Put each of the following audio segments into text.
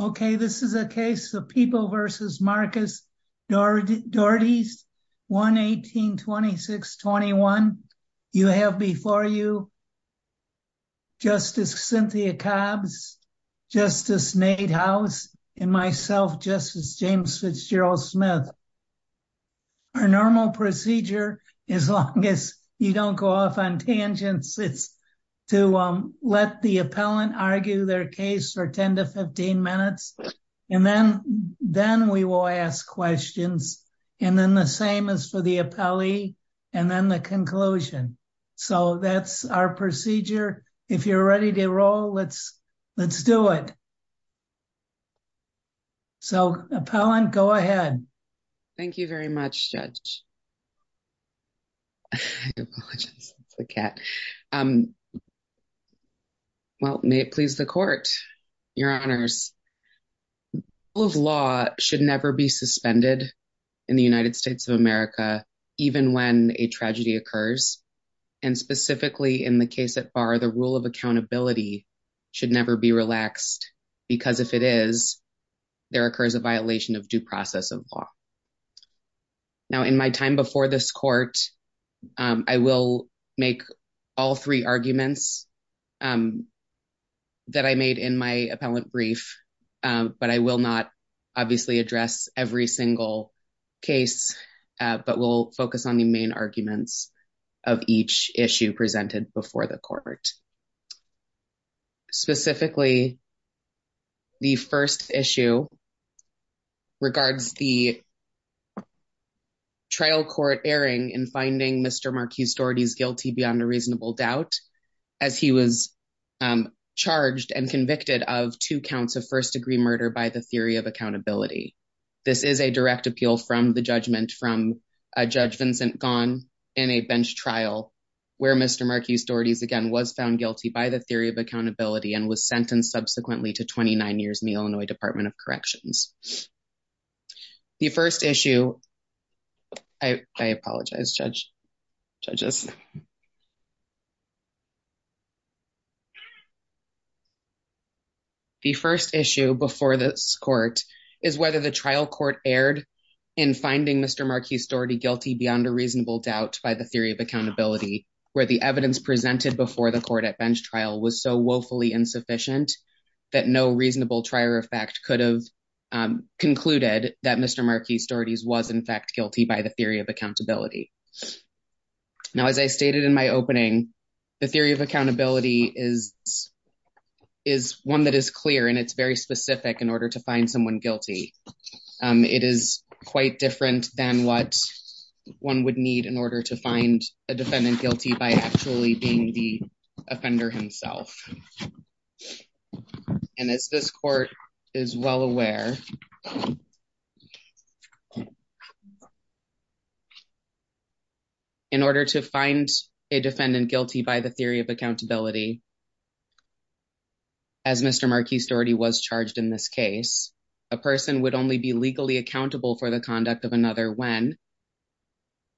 Okay, this is a case of People v. Marcus Dordies, 1-18-2621. You have before you Justice Cynthia Cobbs, Justice Nate House, and myself, Justice James Fitzgerald Smith. Our normal procedure, as long as you don't go off on tangents, it's to let the appellant argue their case for 10 to 15 minutes, and then we will ask questions. And then the same as for the appellee and then the conclusion. So that's our procedure. If you're ready to roll, let's do it. So, appellant, go ahead. Thank you very much, Judge. I apologize, that's the cat. Well, may it please the court, Your Honors. Rule of law should never be suspended in the United States of America, even when a tragedy occurs. And specifically in the case at bar, the rule of accountability should never be relaxed, because if it is, there occurs a violation of due process of law. Now, in my time before this court, I will make all three arguments that I made in my appellant brief, but I will not obviously address every single case, but we'll focus on the main arguments of each issue presented before the court. Specifically, the first issue regards the trial court erring in finding Mr. Marquis-Doherty guilty beyond a reasonable doubt, as he was charged and convicted of two counts of first degree murder by the theory of accountability. This is a direct appeal from the judgment from Judge Vincent Ghosn in a bench trial where Mr. Marquis-Doherty, again, was found guilty by the theory of accountability and was sentenced subsequently to 29 years in the Illinois Department of Corrections. The first issue... I apologize, judges. The first issue before this court is whether the trial court erred in finding Mr. Marquis-Doherty guilty beyond a reasonable doubt by the theory of accountability, where the evidence presented before the court at bench trial was so woefully insufficient that no reasonable trier of fact could have concluded that Mr. Marquis-Doherty was in fact guilty by the theory of accountability. Now, as I stated in my opening, the theory of accountability is one that is clear and it's very specific in order to find someone guilty. It is quite different than what one would need in order to find a defendant guilty by actually being the offender himself. And as this court is well aware, in order to find a defendant guilty by the theory of accountability, as Mr. Marquis-Doherty was charged in this case, a person would only be legally accountable for the conduct of another when,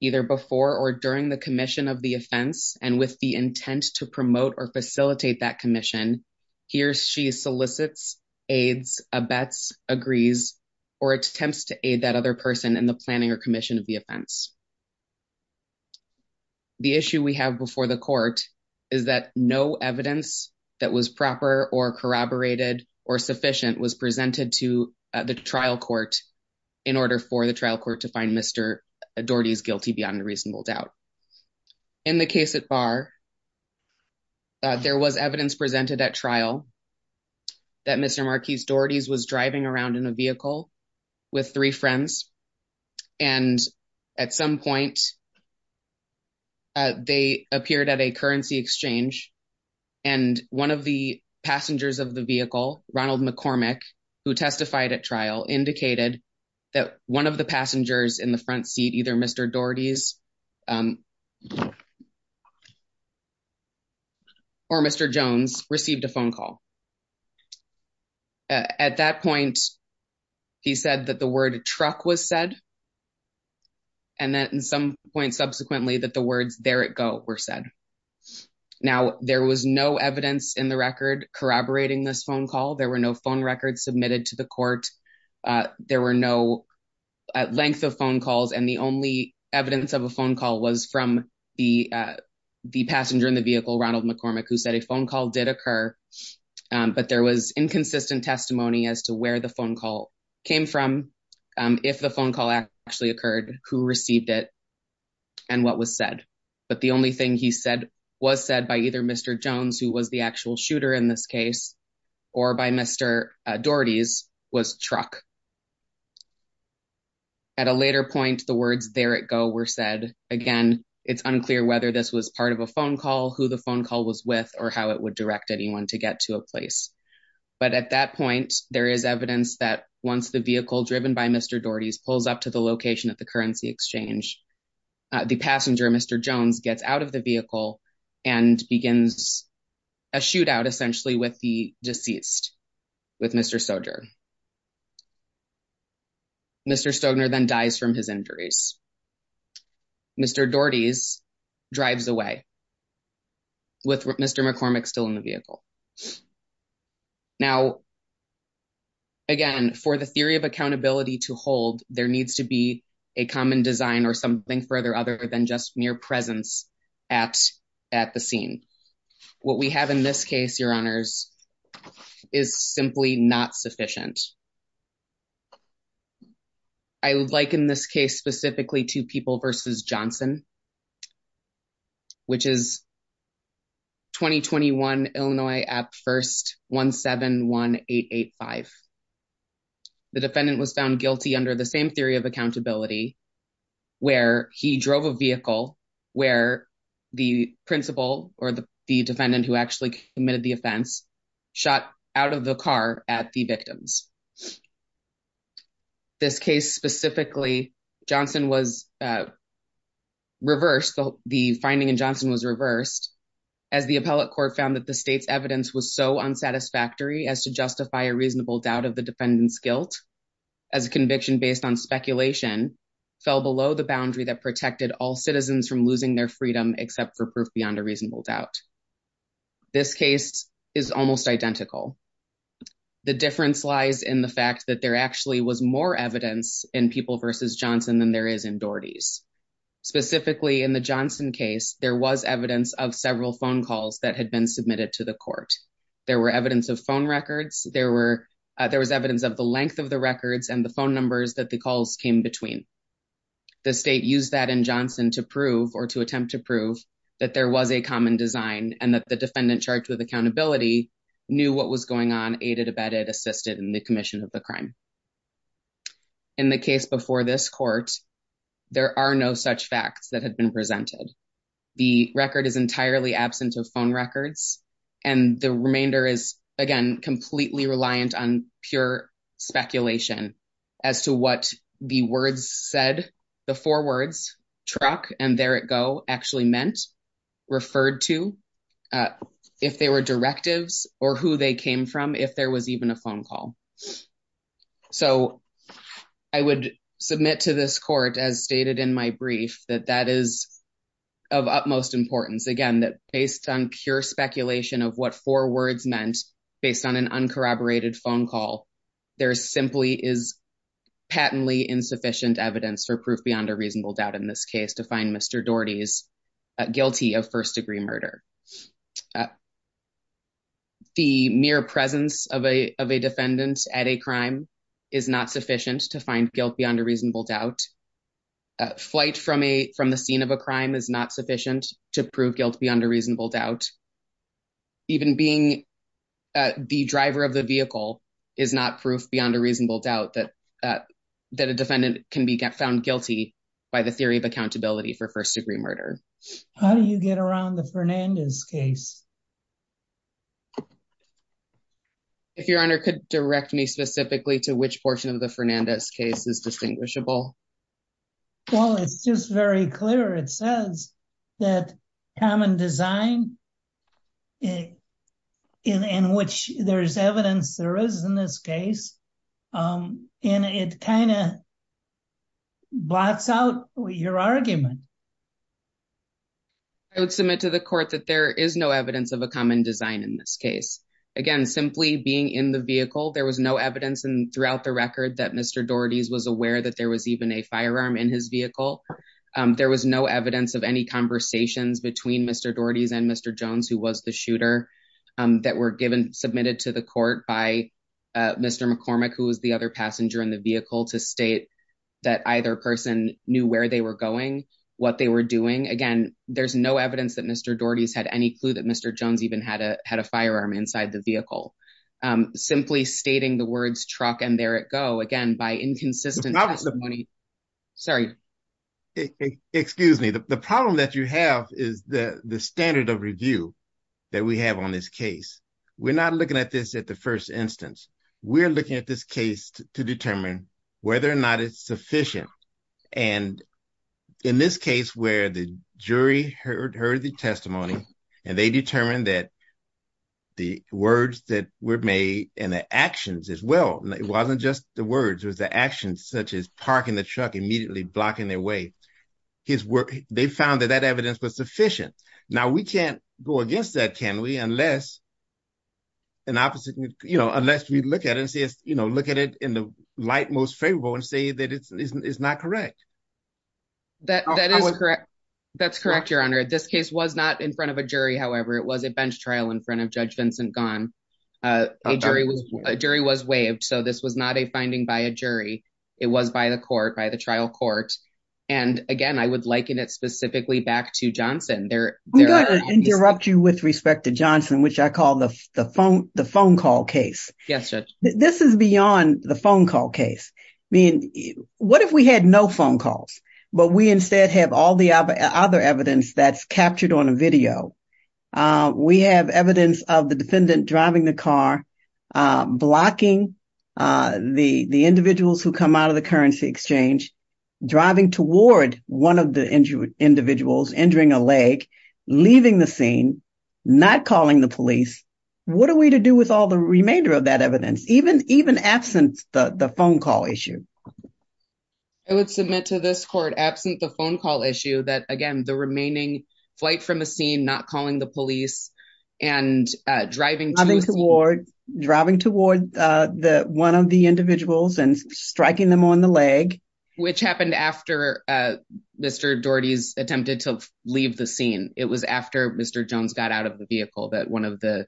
either before or during the commission of the offense, and with the intent to promote or facilitate that commission, he or she solicits, aids, abets, agrees, or attempts to aid that other person in the planning or commission of the offense. The issue we have before the court is that no evidence that was proper or corroborated or sufficient was presented to the trial court in order for the trial court to find Mr. Doherty is guilty beyond a reasonable doubt. In the case at bar, there was evidence presented at trial that Mr. Marquis-Doherty was driving around in a vehicle with three friends. And at some point, they appeared at a currency exchange. And one of the passengers of the vehicle, Ronald McCormick, who testified at trial, indicated that one of the passengers in the front seat, either Mr. Doherty's or Mr. Jones received a phone call. At that point, he said that the word truck was said. And then at some point subsequently that the words there it go were said. Now, there was no evidence in the record corroborating this phone call. There were no phone records submitted to the court. There were no length of phone calls. And the only evidence of a phone call was from the passenger in the vehicle, Ronald McCormick, who said a phone call did occur. But there was inconsistent testimony as to where the phone call came from, if the phone call actually occurred, who received it, and what was said. But the only thing he said was said by either Mr. Jones, who was the actual shooter in this case, or by Mr. Doherty's, was truck. At a later point, the words there it go were said. Again, it's unclear whether this was part of a phone call, who the phone call was with, or how it would direct anyone to get to a place. But at that point, there is evidence that once the vehicle driven by Mr. Doherty's pulls up to the location at the currency exchange, the passenger, Mr. Jones, gets out of the vehicle and begins a shootout, essentially, with the deceased, with Mr. Stogner. Mr. Stogner then dies from his injuries. Mr. Doherty's drives away, with Mr. McCormick still in the vehicle. Now, again, for the theory of accountability to hold, there needs to be a common design or something further other than just mere presence at the scene. What we have in this case, Your Honors, is simply not sufficient. I liken this case specifically to People v. Johnson, which is 2021, Illinois, at 1-17-1885. The defendant was found guilty under the same theory of accountability, where he drove a vehicle where the principal, or the defendant who actually committed the offense, shot out of the car at the victims. This case specifically, Johnson was reversed, the finding in Johnson was reversed, as the appellate court found that the state's evidence was so unsatisfactory as to justify a reasonable doubt of the defendant's guilt, as a conviction based on speculation fell below the boundary that protected all citizens from losing their freedom except for proof beyond a reasonable doubt. This case is almost identical. The difference lies in the fact that there actually was more evidence in People v. Johnson than there is in Doherty's. Specifically, in the Johnson case, there was evidence of several phone calls that had been submitted to the court. There were evidence of phone records, there was evidence of the length of the records and the phone numbers that the calls came between. The state used that in Johnson to prove, or to attempt to prove, that there was a common design and that the defendant charged with accountability knew what was going on aided, abetted, assisted in the commission of the crime. In the case before this court, there are no such facts that have been presented. The record is entirely absent of phone records, and the remainder is, again, completely reliant on pure speculation as to what the words said, the four words, truck and there it go, actually meant, referred to, if they were directives, or who they came from, if there was even a phone call. So, I would submit to this court, as stated in my brief, that that is of utmost importance. Again, based on pure speculation of what four words meant, based on an uncorroborated phone call, there simply is patently insufficient evidence for proof beyond a reasonable doubt in this case to find Mr. Doherty guilty of first-degree murder. The mere presence of a defendant at a crime is not sufficient to find guilt beyond a reasonable doubt. Flight from the scene of a crime is not sufficient to prove guilt beyond a reasonable doubt. Even being the driver of the vehicle is not proof beyond a reasonable doubt that a defendant can be found guilty by the theory of accountability for first-degree murder. How do you get around the Fernandez case? If Your Honor could direct me specifically to which portion of the Fernandez case is distinguishable. Well, it's just very clear. It says that common design, in which there's evidence there is in this case, and it kind of blots out your argument. I would submit to the court that there is no evidence of a common design in this case. Again, simply being in the vehicle, there was no evidence throughout the record that Mr. Doherty was aware that there was even a firearm in his vehicle. There was no evidence of any conversations between Mr. Doherty and Mr. Jones, who was the shooter, that were submitted to the court by Mr. McCormick, who was the other passenger in the vehicle, to state that either person knew where they were going, what they were doing. Again, there's no evidence that Mr. Doherty had any clue that Mr. Jones even had a firearm inside the vehicle. Simply stating the words truck and there it go, again, by inconsistent testimony. Excuse me. The problem that you have is the standard of review that we have on this case. We're not looking at this at the first instance. We're looking at this case to determine whether or not it's sufficient. In this case where the jury heard the testimony and they determined that the words that were made and the actions as well, it wasn't just the words, it was the actions such as parking the truck, immediately blocking their way. They found that that evidence was sufficient. Now, we can't go against that, can we, unless we look at it in the light most favorable and say that it's not correct. That is correct. That's correct, Your Honor. This case was not in front of a jury, however. It was a bench trial in front of Judge Vincent Gunn. A jury was waived, so this was not a finding by a jury. It was by the trial court. And again, I would liken it specifically back to Johnson. I'm going to interrupt you with respect to Johnson, which I call the phone call case. This is beyond the phone call case. I mean, what if we had no phone calls, but we instead have all the other evidence that's captured on a video? We have evidence of the defendant driving the car, blocking the individuals who come out of the currency exchange, driving toward one of the injured individuals, injuring a leg, leaving the scene, not calling the police. What are we to do with all the remainder of that evidence, even absent the phone call issue? I would submit to this court, absent the phone call issue, that again, the remaining flight from a scene, not calling the police and driving toward one of the individuals and striking them on the leg. Which happened after Mr. Doherty's attempted to leave the scene. It was after Mr. Jones got out of the vehicle that one of the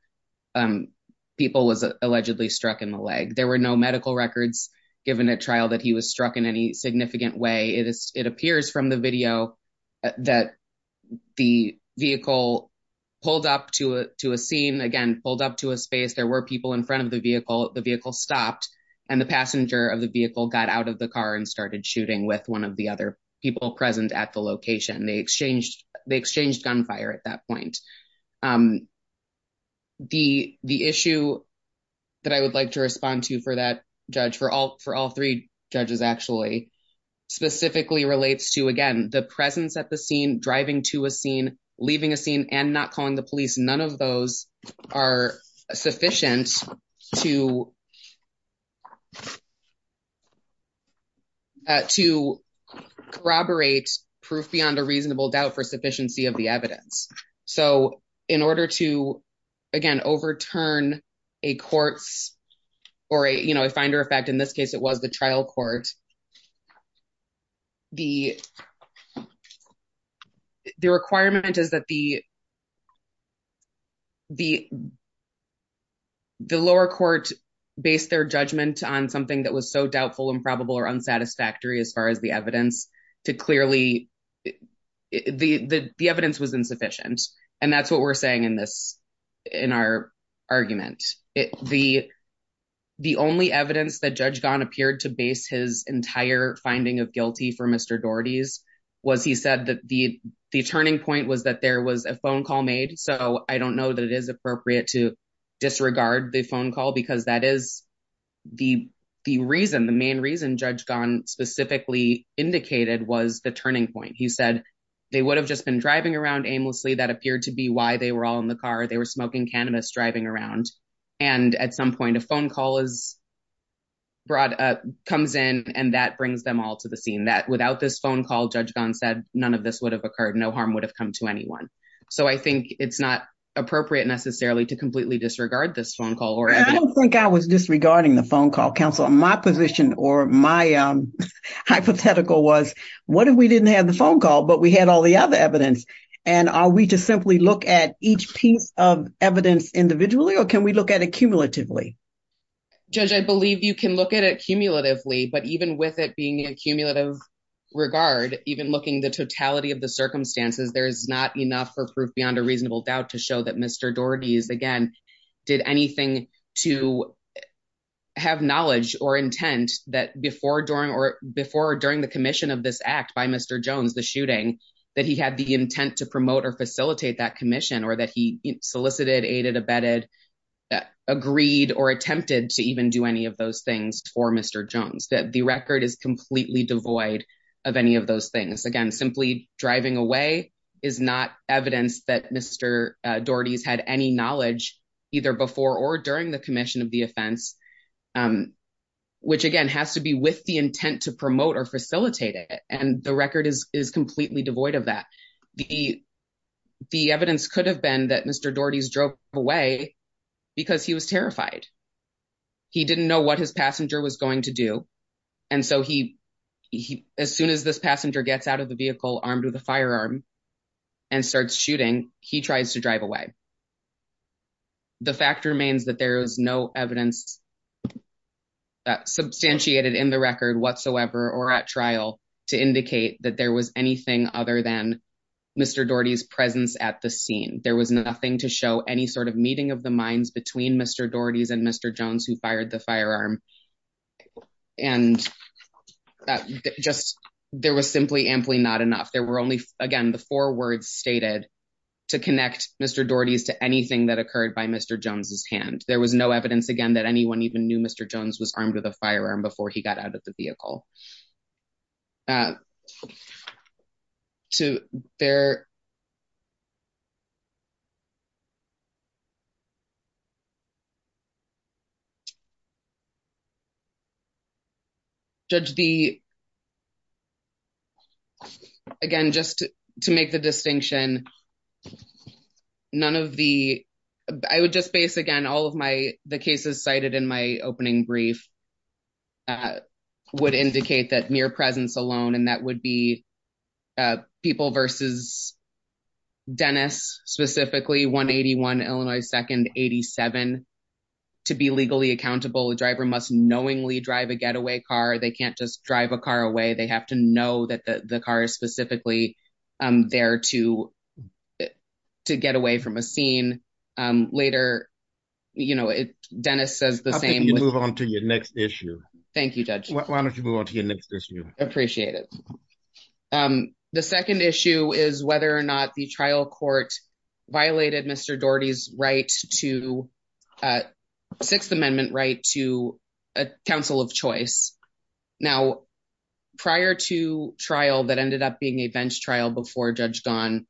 people was allegedly struck in the leg. There were no medical records given at trial that he was struck in any significant way. It appears from the video that the vehicle pulled up to a scene, again, pulled up to a space. There were people in front of the vehicle. The vehicle stopped and the passenger of the vehicle got out of the car and started shooting with one of the other people present at the location. They exchanged gunfire at that point. The issue that I would like to respond to for that judge, for all three judges actually, specifically relates to, again, the presence at the scene, driving to a scene, leaving a scene and not calling the police. None of those are sufficient to corroborate proof beyond a reasonable doubt for sufficiency of the evidence. In order to, again, overturn a courts or a finder effect, in this case, it was the trial court. The requirement is that the lower court based their judgment on something that was so doubtful, improbable or unsatisfactory as far as the evidence. The evidence was insufficient. That's what we're saying in our argument. The only evidence that Judge Gahn appeared to base his entire finding of guilty for Mr. Doherty's was he said that the turning point was that there was a phone call made. So I don't know that it is appropriate to disregard the phone call because that is the reason. The main reason Judge Gahn specifically indicated was the turning point. He said they would have just been driving around aimlessly. That appeared to be why they were all in the car. They were smoking cannabis, driving around. And at some point, a phone call is brought up, comes in, and that brings them all to the scene that without this phone call, Judge Gahn said none of this would have occurred. No harm would have come to anyone. It's not appropriate necessarily to completely disregard this phone call. I don't think I was disregarding the phone call, counsel. My position or my hypothetical was what if we didn't have the phone call, but we had all the other evidence? And are we to simply look at each piece of evidence individually or can we look at it cumulatively? Judge, I believe you can look at it cumulatively, but even with it being a cumulative regard, even looking at the totality of the circumstances, there's not enough for proof beyond a reasonable doubt to show that Mr. Doherty, again, did anything to have knowledge or intent that before or during the commission of this act by Mr. Jones, the shooting, that he had the intent to promote or facilitate that commission or that he solicited, aided, abetted, agreed, or attempted to even do any of those things for Mr. Jones. The record is completely devoid of any of those things. Again, simply driving away is not evidence that Mr. Doherty's had any knowledge either before or during the commission of the offense, which, again, has to be with the intent to promote or facilitate it. And the record is completely devoid of that. The evidence could have been that Mr. Doherty's drove away because he was terrified. He didn't know what his passenger was going to do. And so as soon as this passenger gets out of the vehicle armed with a firearm and starts shooting, he tries to drive away. The fact remains that there is no evidence substantiated in the record whatsoever or at trial to indicate that there was anything other than Mr. Doherty's presence at the scene. There was nothing to show any sort of meeting of the minds between Mr. Doherty's and Mr. Jones who fired the firearm. And there was simply amply not enough. There were only, again, the four words stated to connect Mr. Doherty's to anything that occurred by Mr. Jones's hand. There was no evidence, again, that anyone even knew Mr. Jones was armed with a firearm before he got out of the vehicle. Judge, the, again, just to make the distinction, none of the, I would just base, again, all of my, the cases cited in my opening brief would indicate that mere presence alone. And that would be people versus Dennis, specifically, 181 Illinois 2nd 87. To be legally accountable, the driver must knowingly drive a getaway car. They can't just drive a car away. They have to know that the car is specifically there to get away from a scene. Later, you know, Dennis says the same. I think you move on to your next issue. Thank you, Judge. Why don't you move on to your next issue? Appreciate it. The 2nd issue is whether or not the trial court violated Mr. Doherty's right to 6th Amendment right to a council of choice. Now, prior to trial that ended up being a bench trial before Judge Don,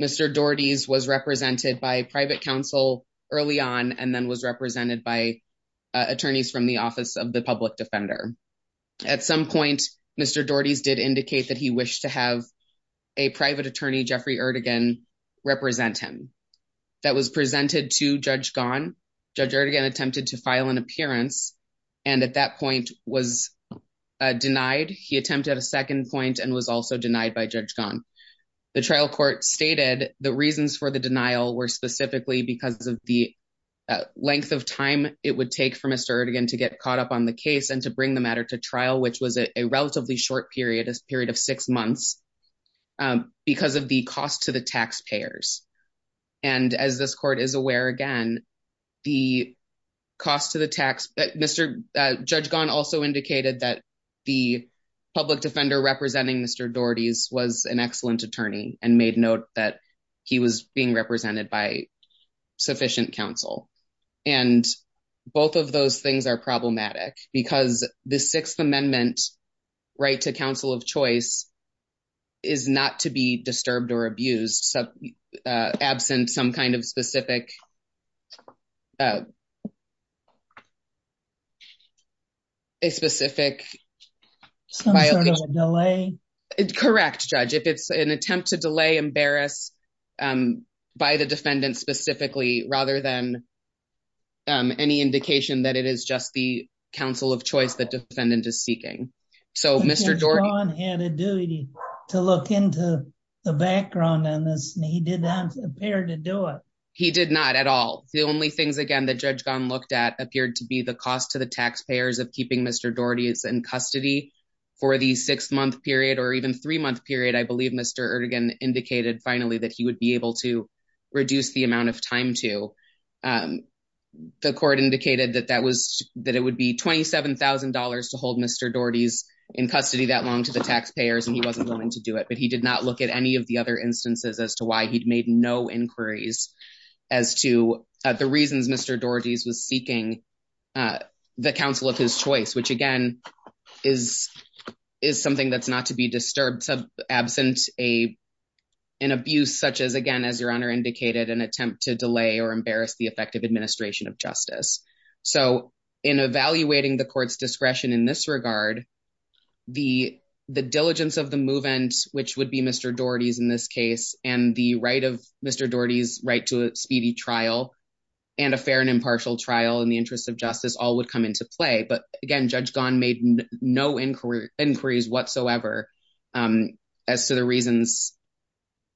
Mr. Doherty's was represented by private counsel early on and then was represented by attorneys from the office of the public defender. At some point, Mr. Doherty's did indicate that he wished to have a private attorney, Jeffrey Erdogan, represent him. That was presented to Judge Don. Judge Erdogan attempted to file an appearance and at that point was denied. He attempted a second point and was also denied by Judge Don. The trial court stated the reasons for the denial were specifically because of the length of time it would take for Mr. Erdogan to get caught up on the case and to bring the matter to trial, which was a relatively short period of 6 months because of the cost to the taxpayers. And as this court is aware, again, the cost to the tax, Mr. Judge Don also indicated that the public defender representing Mr. Doherty's was an excellent attorney and made note that he was being represented by sufficient counsel. And both of those things are problematic because the Sixth Amendment right to counsel of choice is not to be disturbed or abused. So, absent some kind of specific, a specific delay. Correct, Judge. If it's an attempt to delay, embarrass by the defendant specifically, rather than any indication that it is just the counsel of choice that defendant is seeking. Judge Don had a duty to look into the background on this and he did not appear to do it. He did not at all. The only things again that Judge Don looked at appeared to be the cost to the taxpayers of keeping Mr. Doherty in custody for the 6 month period or even 3 month period. I believe Mr. Erdogan indicated finally that he would be able to reduce the amount of time to. The court indicated that it would be $27,000 to hold Mr. Doherty's in custody that long to the taxpayers and he wasn't willing to do it. But he did not look at any of the other instances as to why he'd made no inquiries as to the reasons Mr. Doherty's was seeking the counsel of his choice. Which again, is something that's not to be disturbed. So, absent an abuse such as again, as your Honor indicated, an attempt to delay or embarrass the effective administration of justice. So, in evaluating the court's discretion in this regard, the diligence of the move-ins, which would be Mr. Doherty's in this case, and the right of Mr. Doherty's right to a speedy trial, and a fair and impartial trial in the interest of justice, all would come into play. But again, Judge Gahn made no inquiries whatsoever as to the reasons.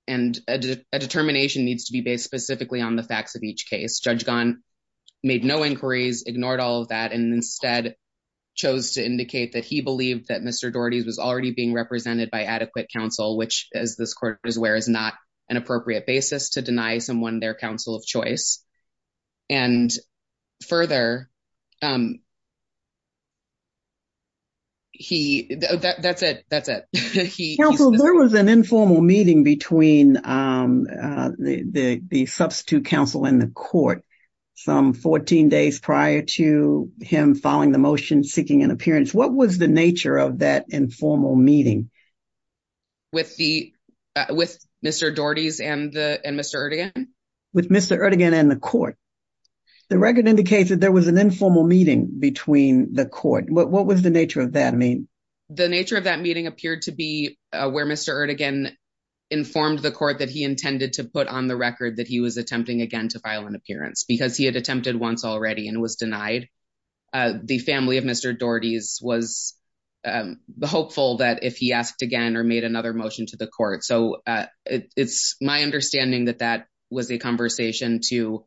And a determination needs to be based specifically on the facts of each case. Judge Gahn made no inquiries, ignored all of that, and instead chose to indicate that he believed that Mr. Doherty's was already being represented by adequate counsel. Which, as this court is aware, is not an appropriate basis to deny someone their counsel of choice. And further, that's it. That's it. Counsel, there was an informal meeting between the substitute counsel and the court some 14 days prior to him following the motion, seeking an appearance. What was the nature of that informal meeting? With Mr. Doherty's and Mr. Erdogan? With Mr. Erdogan and the court. The record indicates that there was an informal meeting between the court. What was the nature of that meeting? The nature of that meeting appeared to be where Mr. Erdogan informed the court that he intended to put on the record that he was attempting again to file an appearance because he had attempted once already and was denied. The family of Mr. Doherty's was hopeful that if he asked again or made another motion to the court. So it's my understanding that that was a conversation to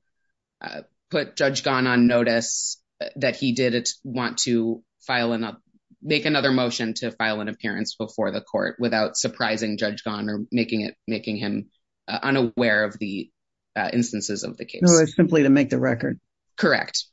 put Judge Gahn on notice that he did want to make another motion to file an appearance before the court without surprising Judge Gahn or making him unaware of the instances of the case. So it's simply to make the record. Correct.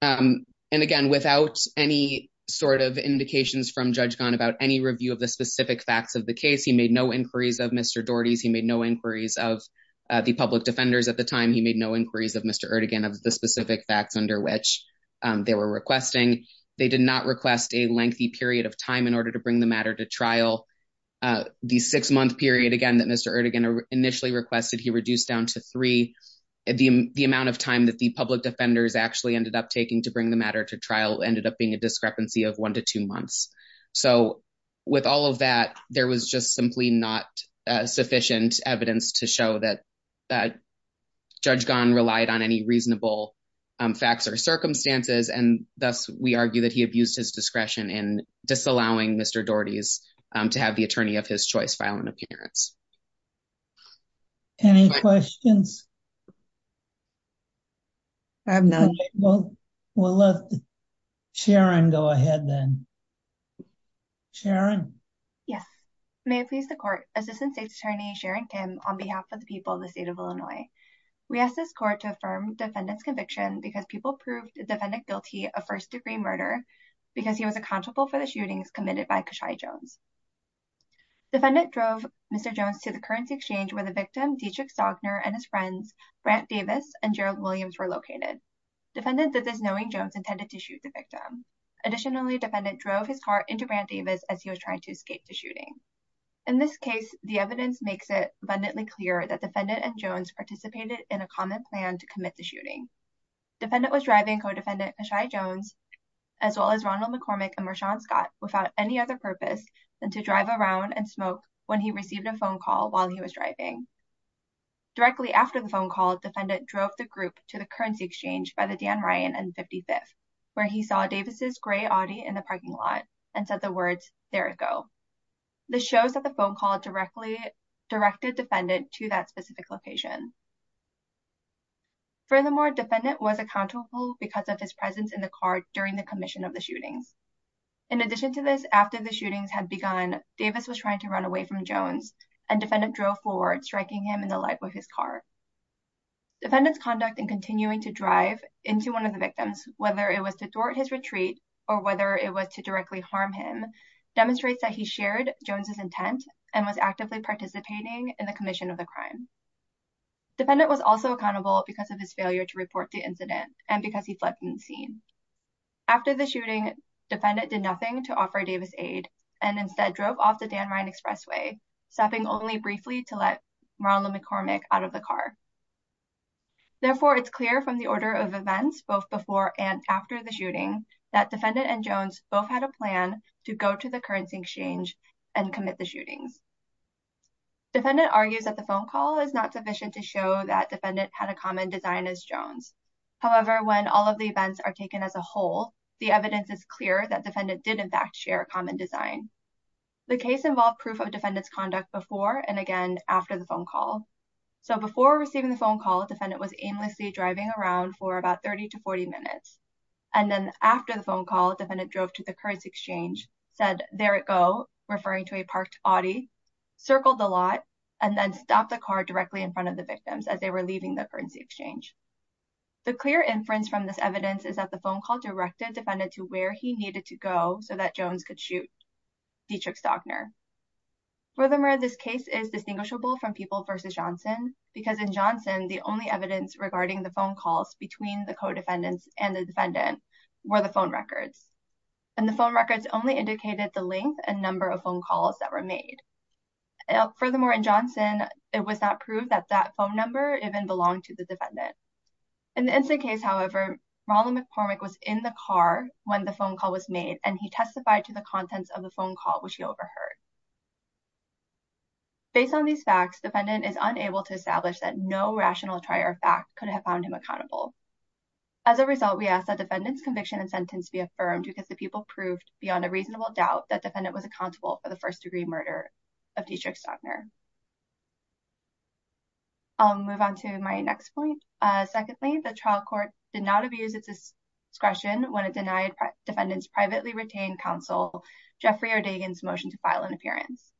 And again, without any sort of indications from Judge Gahn about any review of the specific facts of the case, he made no inquiries of Mr. Doherty's. He made no inquiries of the public defenders at the time. He made no inquiries of Mr. Erdogan of the specific facts under which they were requesting. They did not request a lengthy period of time in order to bring the matter to trial. The six month period again that Mr. Erdogan initially requested, he reduced down to three. The amount of time that the public defenders actually ended up taking to bring the matter to trial ended up being a discrepancy of one to two months. So with all of that, there was just simply not sufficient evidence to show that Judge Gahn relied on any reasonable facts or circumstances. And thus, we argue that he abused his discretion in disallowing Mr. Doherty's to have the attorney of his choice file an appearance. Any questions? I have none. We'll let Sharon go ahead then. Sharon? Yes. May it please the court, Assistant State's Attorney Sharon Kim, on behalf of the people of the state of Illinois. We ask this court to affirm defendant's conviction because people proved the defendant guilty of first degree murder because he was accountable for the shootings committed by Kashia Jones. Defendant drove Mr. Jones to the currency exchange where the victim, Dietrich Sogner, and his friends, Brant Davis and Gerald Williams, were located. Defendant did this knowing Jones intended to shoot the victim. Additionally, defendant drove his car into Brant Davis as he was trying to escape the shooting. In this case, the evidence makes it abundantly clear that defendant and Jones participated in a common plan to commit the shooting. Defendant was driving co-defendant, Kashia Jones, as well as Ronald McCormick and Rashaun Scott, without any other purpose than to drive around and smoke when he received a phone call while he was driving. Directly after the phone call, defendant drove the group to the currency exchange by the Dan Ryan and 55th, where he saw Davis's gray Audi in the parking lot and said the words, there it go. This shows that the phone call directly directed defendant to that specific location. Furthermore, defendant was accountable because of his presence in the car during the commission of the shootings. In addition to this, after the shootings had begun, Davis was trying to run away from Jones and defendant drove forward, striking him in the leg with his car. Defendant's conduct in continuing to drive into one of the victims, whether it was to thwart his retreat or whether it was to directly harm him, demonstrates that he shared Jones's intent and was actively participating in the commission of the crime. Defendant was also accountable because of his failure to report the incident and because he fled from the scene. After the shooting, defendant did nothing to offer Davis aid and instead drove off the Dan Ryan Expressway, stopping only briefly to let Ronald McCormick out of the car. Therefore, it's clear from the order of events, both before and after the shooting, that defendant and Jones both had a plan to go to the currency exchange and commit the shootings. Defendant argues that the phone call is not sufficient to show that defendant had a common design as Jones. However, when all of the events are taken as a whole, the evidence is clear that defendant did in fact share a common design. The case involved proof of defendant's conduct before and again after the phone call. So before receiving the phone call, defendant was aimlessly driving around for about 30 to 40 minutes. And then after the phone call, defendant drove to the currency exchange, said, there it go, referring to a parked Audi, circled the lot, and then stopped the car directly in front of the victims as they were leaving the currency exchange. The clear inference from this evidence is that the phone call directed defendant to where he needed to go so that Jones could shoot Dietrich Stockner. Furthermore, this case is distinguishable from People v. Johnson because in Johnson, the only evidence regarding the phone calls between the co-defendants and the defendant were the phone records. And the phone records only indicated the length and number of phone calls that were made. Furthermore, in Johnson, it was not proved that that phone number even belonged to the defendant. In the instant case, however, Ronald McCormick was in the car when the phone call was made, and he testified to the contents of the phone call, which he overheard. Based on these facts, defendant is unable to establish that no rational trier of fact could have found him accountable. As a result, we ask that defendant's conviction and sentence be affirmed because the people proved beyond a reasonable doubt that defendant was accountable for the first degree murder of Dietrich Stockner. I'll move on to my next point. Secondly, the trial court did not abuse its discretion when it denied defendants privately retained counsel Jeffrey Erdagan's motion to file an appearance.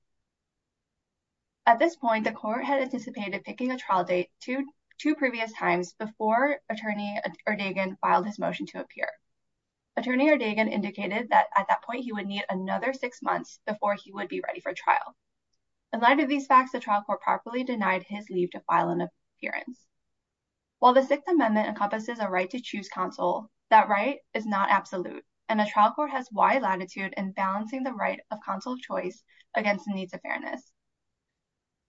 At this point, the court had anticipated picking a trial date to two previous times before attorney Erdagan filed his motion to appear. Attorney Erdagan indicated that at that point, he would need another six months before he would be ready for trial. In light of these facts, the trial court properly denied his leave to file an appearance. While the Sixth Amendment encompasses a right to choose counsel, that right is not absolute, and the trial court has wide latitude in balancing the right of counsel of choice against the needs of fairness.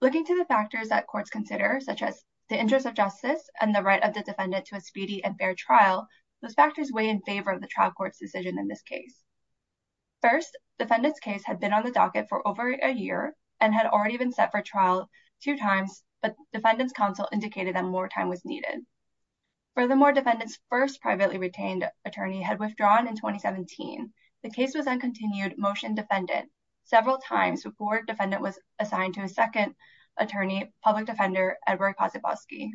Looking to the factors that courts consider, such as the interest of justice and the right of the defendant to a speedy and fair trial, those factors weigh in favor of the trial court's decision in this case. First, defendant's case had been on the docket for over a year and had already been set for trial two times, but defendant's counsel indicated that more time was needed. Furthermore, defendant's first privately retained attorney had withdrawn in 2017. The case was then continued motion defended several times before defendant was assigned to a second attorney, public defender, Edward Posipofsky.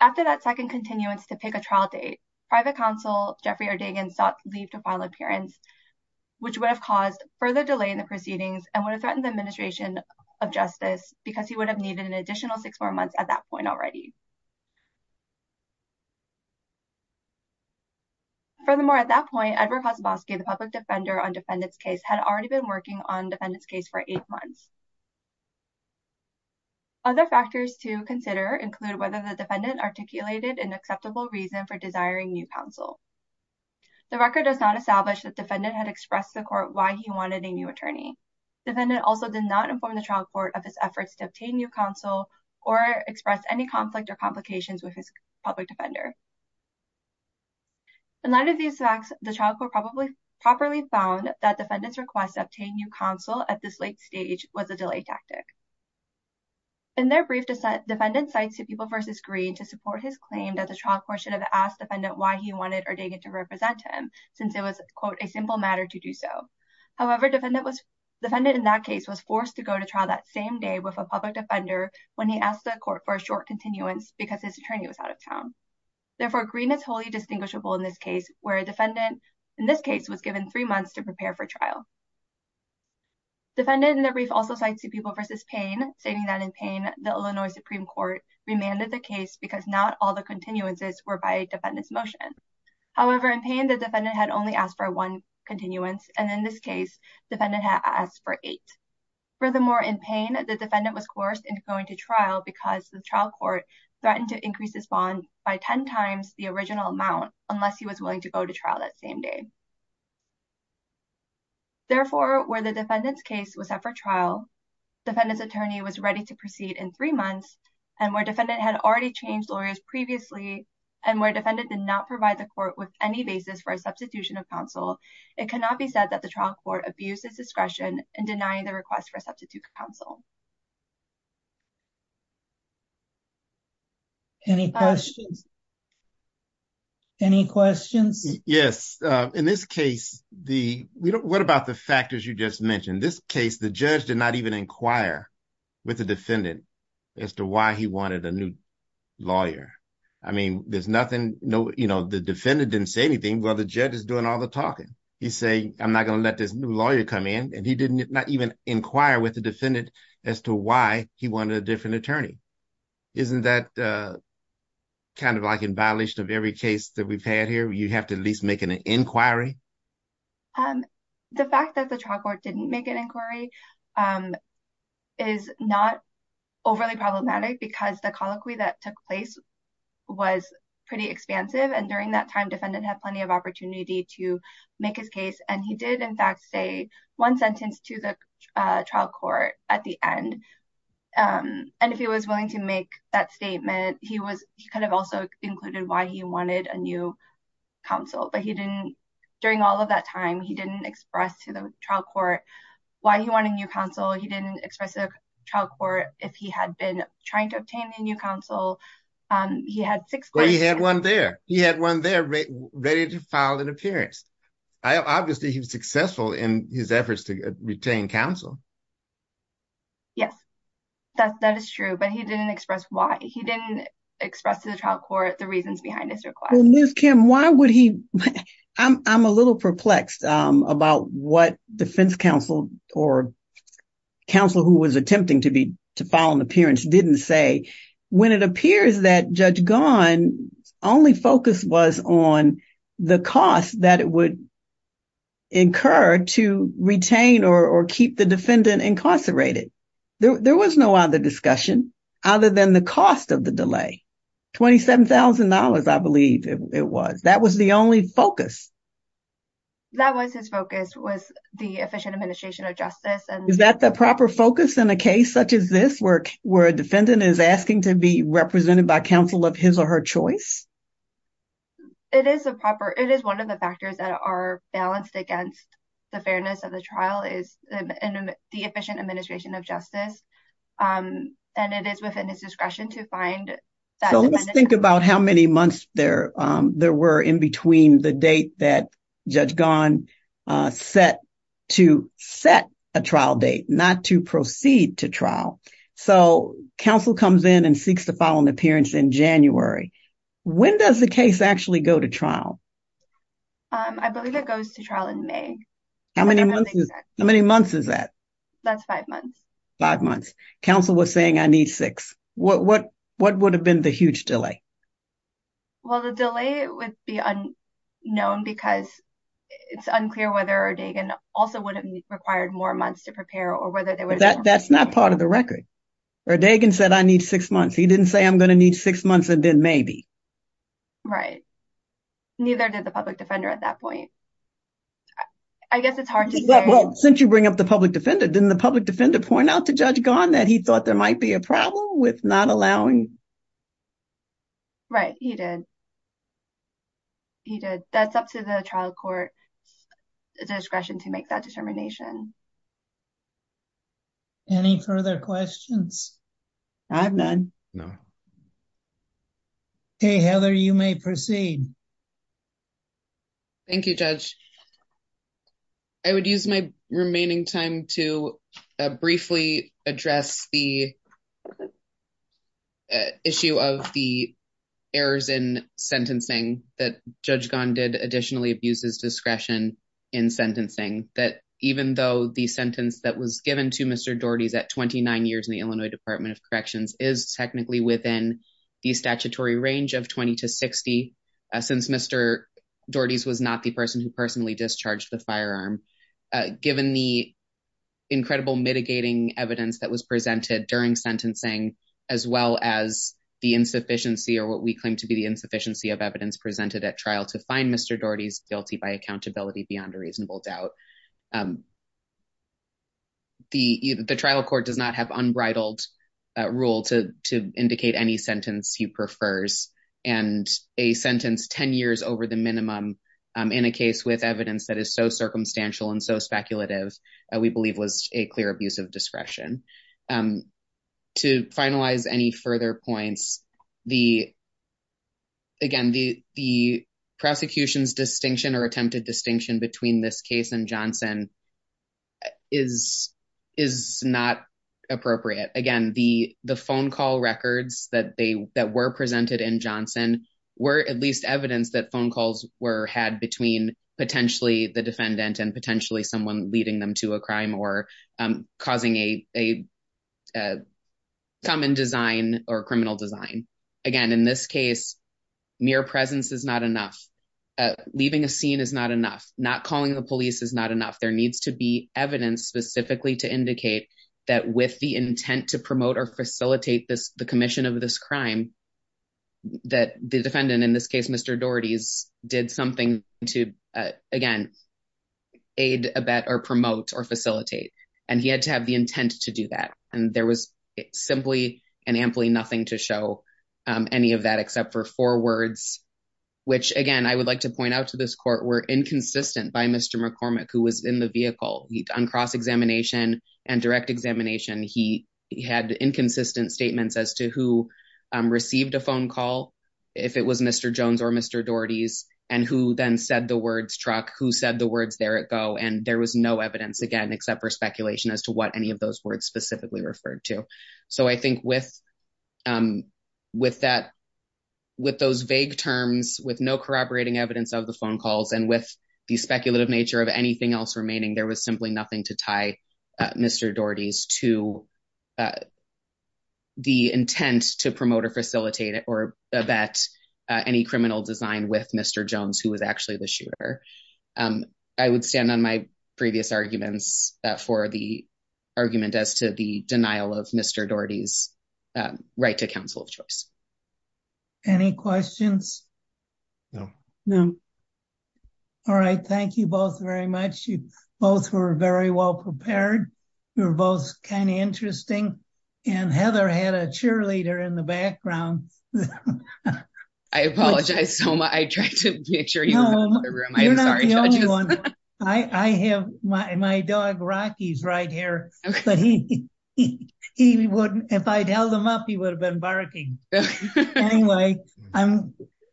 After that second continuance to pick a trial date, private counsel Jeffrey Erdagan sought leave to file an appearance, which would have caused further delay in the proceedings and would have threatened the administration of justice because he would have needed an additional six more months at that point already. Furthermore, at that point, Edward Posipofsky, the public defender on defendant's case, had already been working on defendant's case for eight months. Other factors to consider include whether the defendant articulated an acceptable reason for desiring new counsel. The record does not establish that defendant had expressed to the court why he wanted a new attorney. Defendant also did not inform the trial court of his efforts to obtain new counsel or express any conflict or complications with his public defender. In light of these facts, the trial court probably properly found that defendant's request to obtain new counsel at this late stage was a delay tactic. In their brief, defendant cites to People v. Green to support his claim that the trial court should have asked defendant why he wanted Erdagan to represent him since it was, quote, a simple matter to do so. However, defendant in that case was forced to go to trial that same day with a public defender when he asked the court for a short continuance because his attorney was out of town. Therefore, Green is wholly distinguishable in this case where defendant, in this case, was given three months to prepare for trial. Defendant in their brief also cites to People v. Payne stating that in Payne, the Illinois Supreme Court remanded the case because not all the continuances were by defendant's motion. However, in Payne, the defendant had only asked for one continuance, and in this case, defendant had asked for eight. Furthermore, in Payne, the defendant was coerced into going to trial because the trial court threatened to increase his bond by ten times the original amount unless he was willing to go to trial that same day. Therefore, where the defendant's case was set for trial, defendant's attorney was ready to proceed in three months, and where defendant had already changed lawyers previously, and where defendant did not provide the court with any basis for a substitution of counsel, it cannot be said that the trial court abused his discretion in denying the request for a substitute counsel. Any questions? Any questions? Yes. In this case, what about the factors you just mentioned? In this case, the judge did not even inquire with the defendant as to why he wanted a new lawyer. I mean, there's nothing, you know, the defendant didn't say anything while the judge is doing all the talking. He's saying, I'm not going to let this new lawyer come in, and he did not even inquire with the defendant as to why he wanted a different attorney. Isn't that kind of like in violation of every case that we've had here, you have to at least make an inquiry? The fact that the trial court didn't make an inquiry is not overly problematic because the colloquy that took place was pretty expansive, and during that time, defendant had plenty of opportunity to make his case, and he did, in fact, say one sentence to the trial court at the end. And if he was willing to make that statement, he kind of also included why he wanted a new counsel, but he didn't, during all of that time, he didn't express to the trial court why he wanted a new counsel. He didn't express to the trial court if he had been trying to obtain a new counsel. He had one there. He had one there ready to file an appearance. Obviously, he was successful in his efforts to retain counsel. Yes, that is true, but he didn't express why. He didn't express to the trial court the reasons behind his request. Well, Ms. Kim, why would he – I'm a little perplexed about what defense counsel or counsel who was attempting to file an appearance didn't say. When it appears that Judge Gahn's only focus was on the cost that it would incur to retain or keep the defendant incarcerated, there was no other discussion other than the cost of the delay, $27,000, I believe it was. That was the only focus. That was his focus, was the efficient administration of justice. Is that the proper focus in a case such as this, where a defendant is asking to be represented by counsel of his or her choice? It is one of the factors that are balanced against the fairness of the trial is the efficient administration of justice, and it is within his discretion to find – So, let's think about how many months there were in between the date that Judge Gahn set to set a trial date, not to proceed to trial. So, counsel comes in and seeks to file an appearance in January. When does the case actually go to trial? I believe it goes to trial in May. How many months is that? That's five months. Five months. Counsel was saying, I need six. What would have been the huge delay? Well, the delay would be unknown because it's unclear whether O'Dagon also would have required more months to prepare or whether there was – That's not part of the record. O'Dagon said, I need six months. He didn't say, I'm going to need six months and then maybe. Right. Neither did the public defender at that point. I guess it's hard to say – Well, since you bring up the public defender, didn't the public defender point out to Judge Gahn that he thought there might be a problem with not allowing – Right. He did. He did. That's up to the trial court discretion to make that determination. Any further questions? I have none. No. Okay, Heather, you may proceed. Thank you, Judge. I would use my remaining time to briefly address the issue of the errors in sentencing that Judge Gahn did additionally abuse his discretion in sentencing. That even though the sentence that was given to Mr. Daugherty's at 29 years in the Illinois Department of Corrections is technically within the statutory range of 20 to 60, since Mr. Daugherty's was not the person who personally discharged the firearm, given the incredible mitigating evidence that was presented during sentencing, as well as the insufficiency or what we claim to be the insufficiency of evidence presented at trial to find Mr. Daugherty's guilty by accountability beyond a reasonable doubt. The trial court does not have unbridled rule to indicate any sentence he prefers, and a sentence 10 years over the minimum in a case with evidence that is so circumstantial and so speculative we believe was a clear abuse of discretion. To finalize any further points, again, the prosecution's distinction or attempted distinction between this case and Johnson is not appropriate. Again, the phone call records that were presented in Johnson were at least evidence that phone calls were had between potentially the defendant and potentially someone leading them to a crime or causing a common design or criminal design. Again, in this case, mere presence is not enough. Leaving a scene is not enough. Not calling the police is not enough. There needs to be evidence specifically to indicate that with the intent to promote or facilitate the commission of this crime, that the defendant, in this case, Mr. Daugherty, did something to, again, aid, abet, or promote, or facilitate. And he had to have the intent to do that. And there was simply and amply nothing to show any of that except for four words, which, again, I would like to point out to this court were inconsistent by Mr. McCormick, who was in the vehicle. On cross-examination and direct examination, he had inconsistent statements as to who received a phone call, if it was Mr. Jones or Mr. Daugherty's, and who then said the words truck, who said the words there it go. And there was no evidence, again, except for speculation as to what any of those words specifically referred to. So I think with those vague terms, with no corroborating evidence of the phone calls, and with the speculative nature of anything else remaining, there was simply nothing to tie Mr. Daugherty's to the intent to promote or facilitate or abet any criminal design with Mr. Jones, who was actually the shooter. I would stand on my previous arguments for the argument as to the denial of Mr. Daugherty's right to counsel of choice. Any questions? No. No. All right. Thank you both very much. You both were very well prepared. You were both kind of interesting. And Heather had a cheerleader in the background. I apologize, Soma. I tried to make sure you were in the room. I'm sorry, judges. You're not the only one. I have my dog, Rocky, is right here. But if I'd held him up, he would have been barking. Anyway,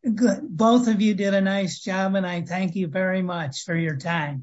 both of you did a nice job. And I thank you very much for your time.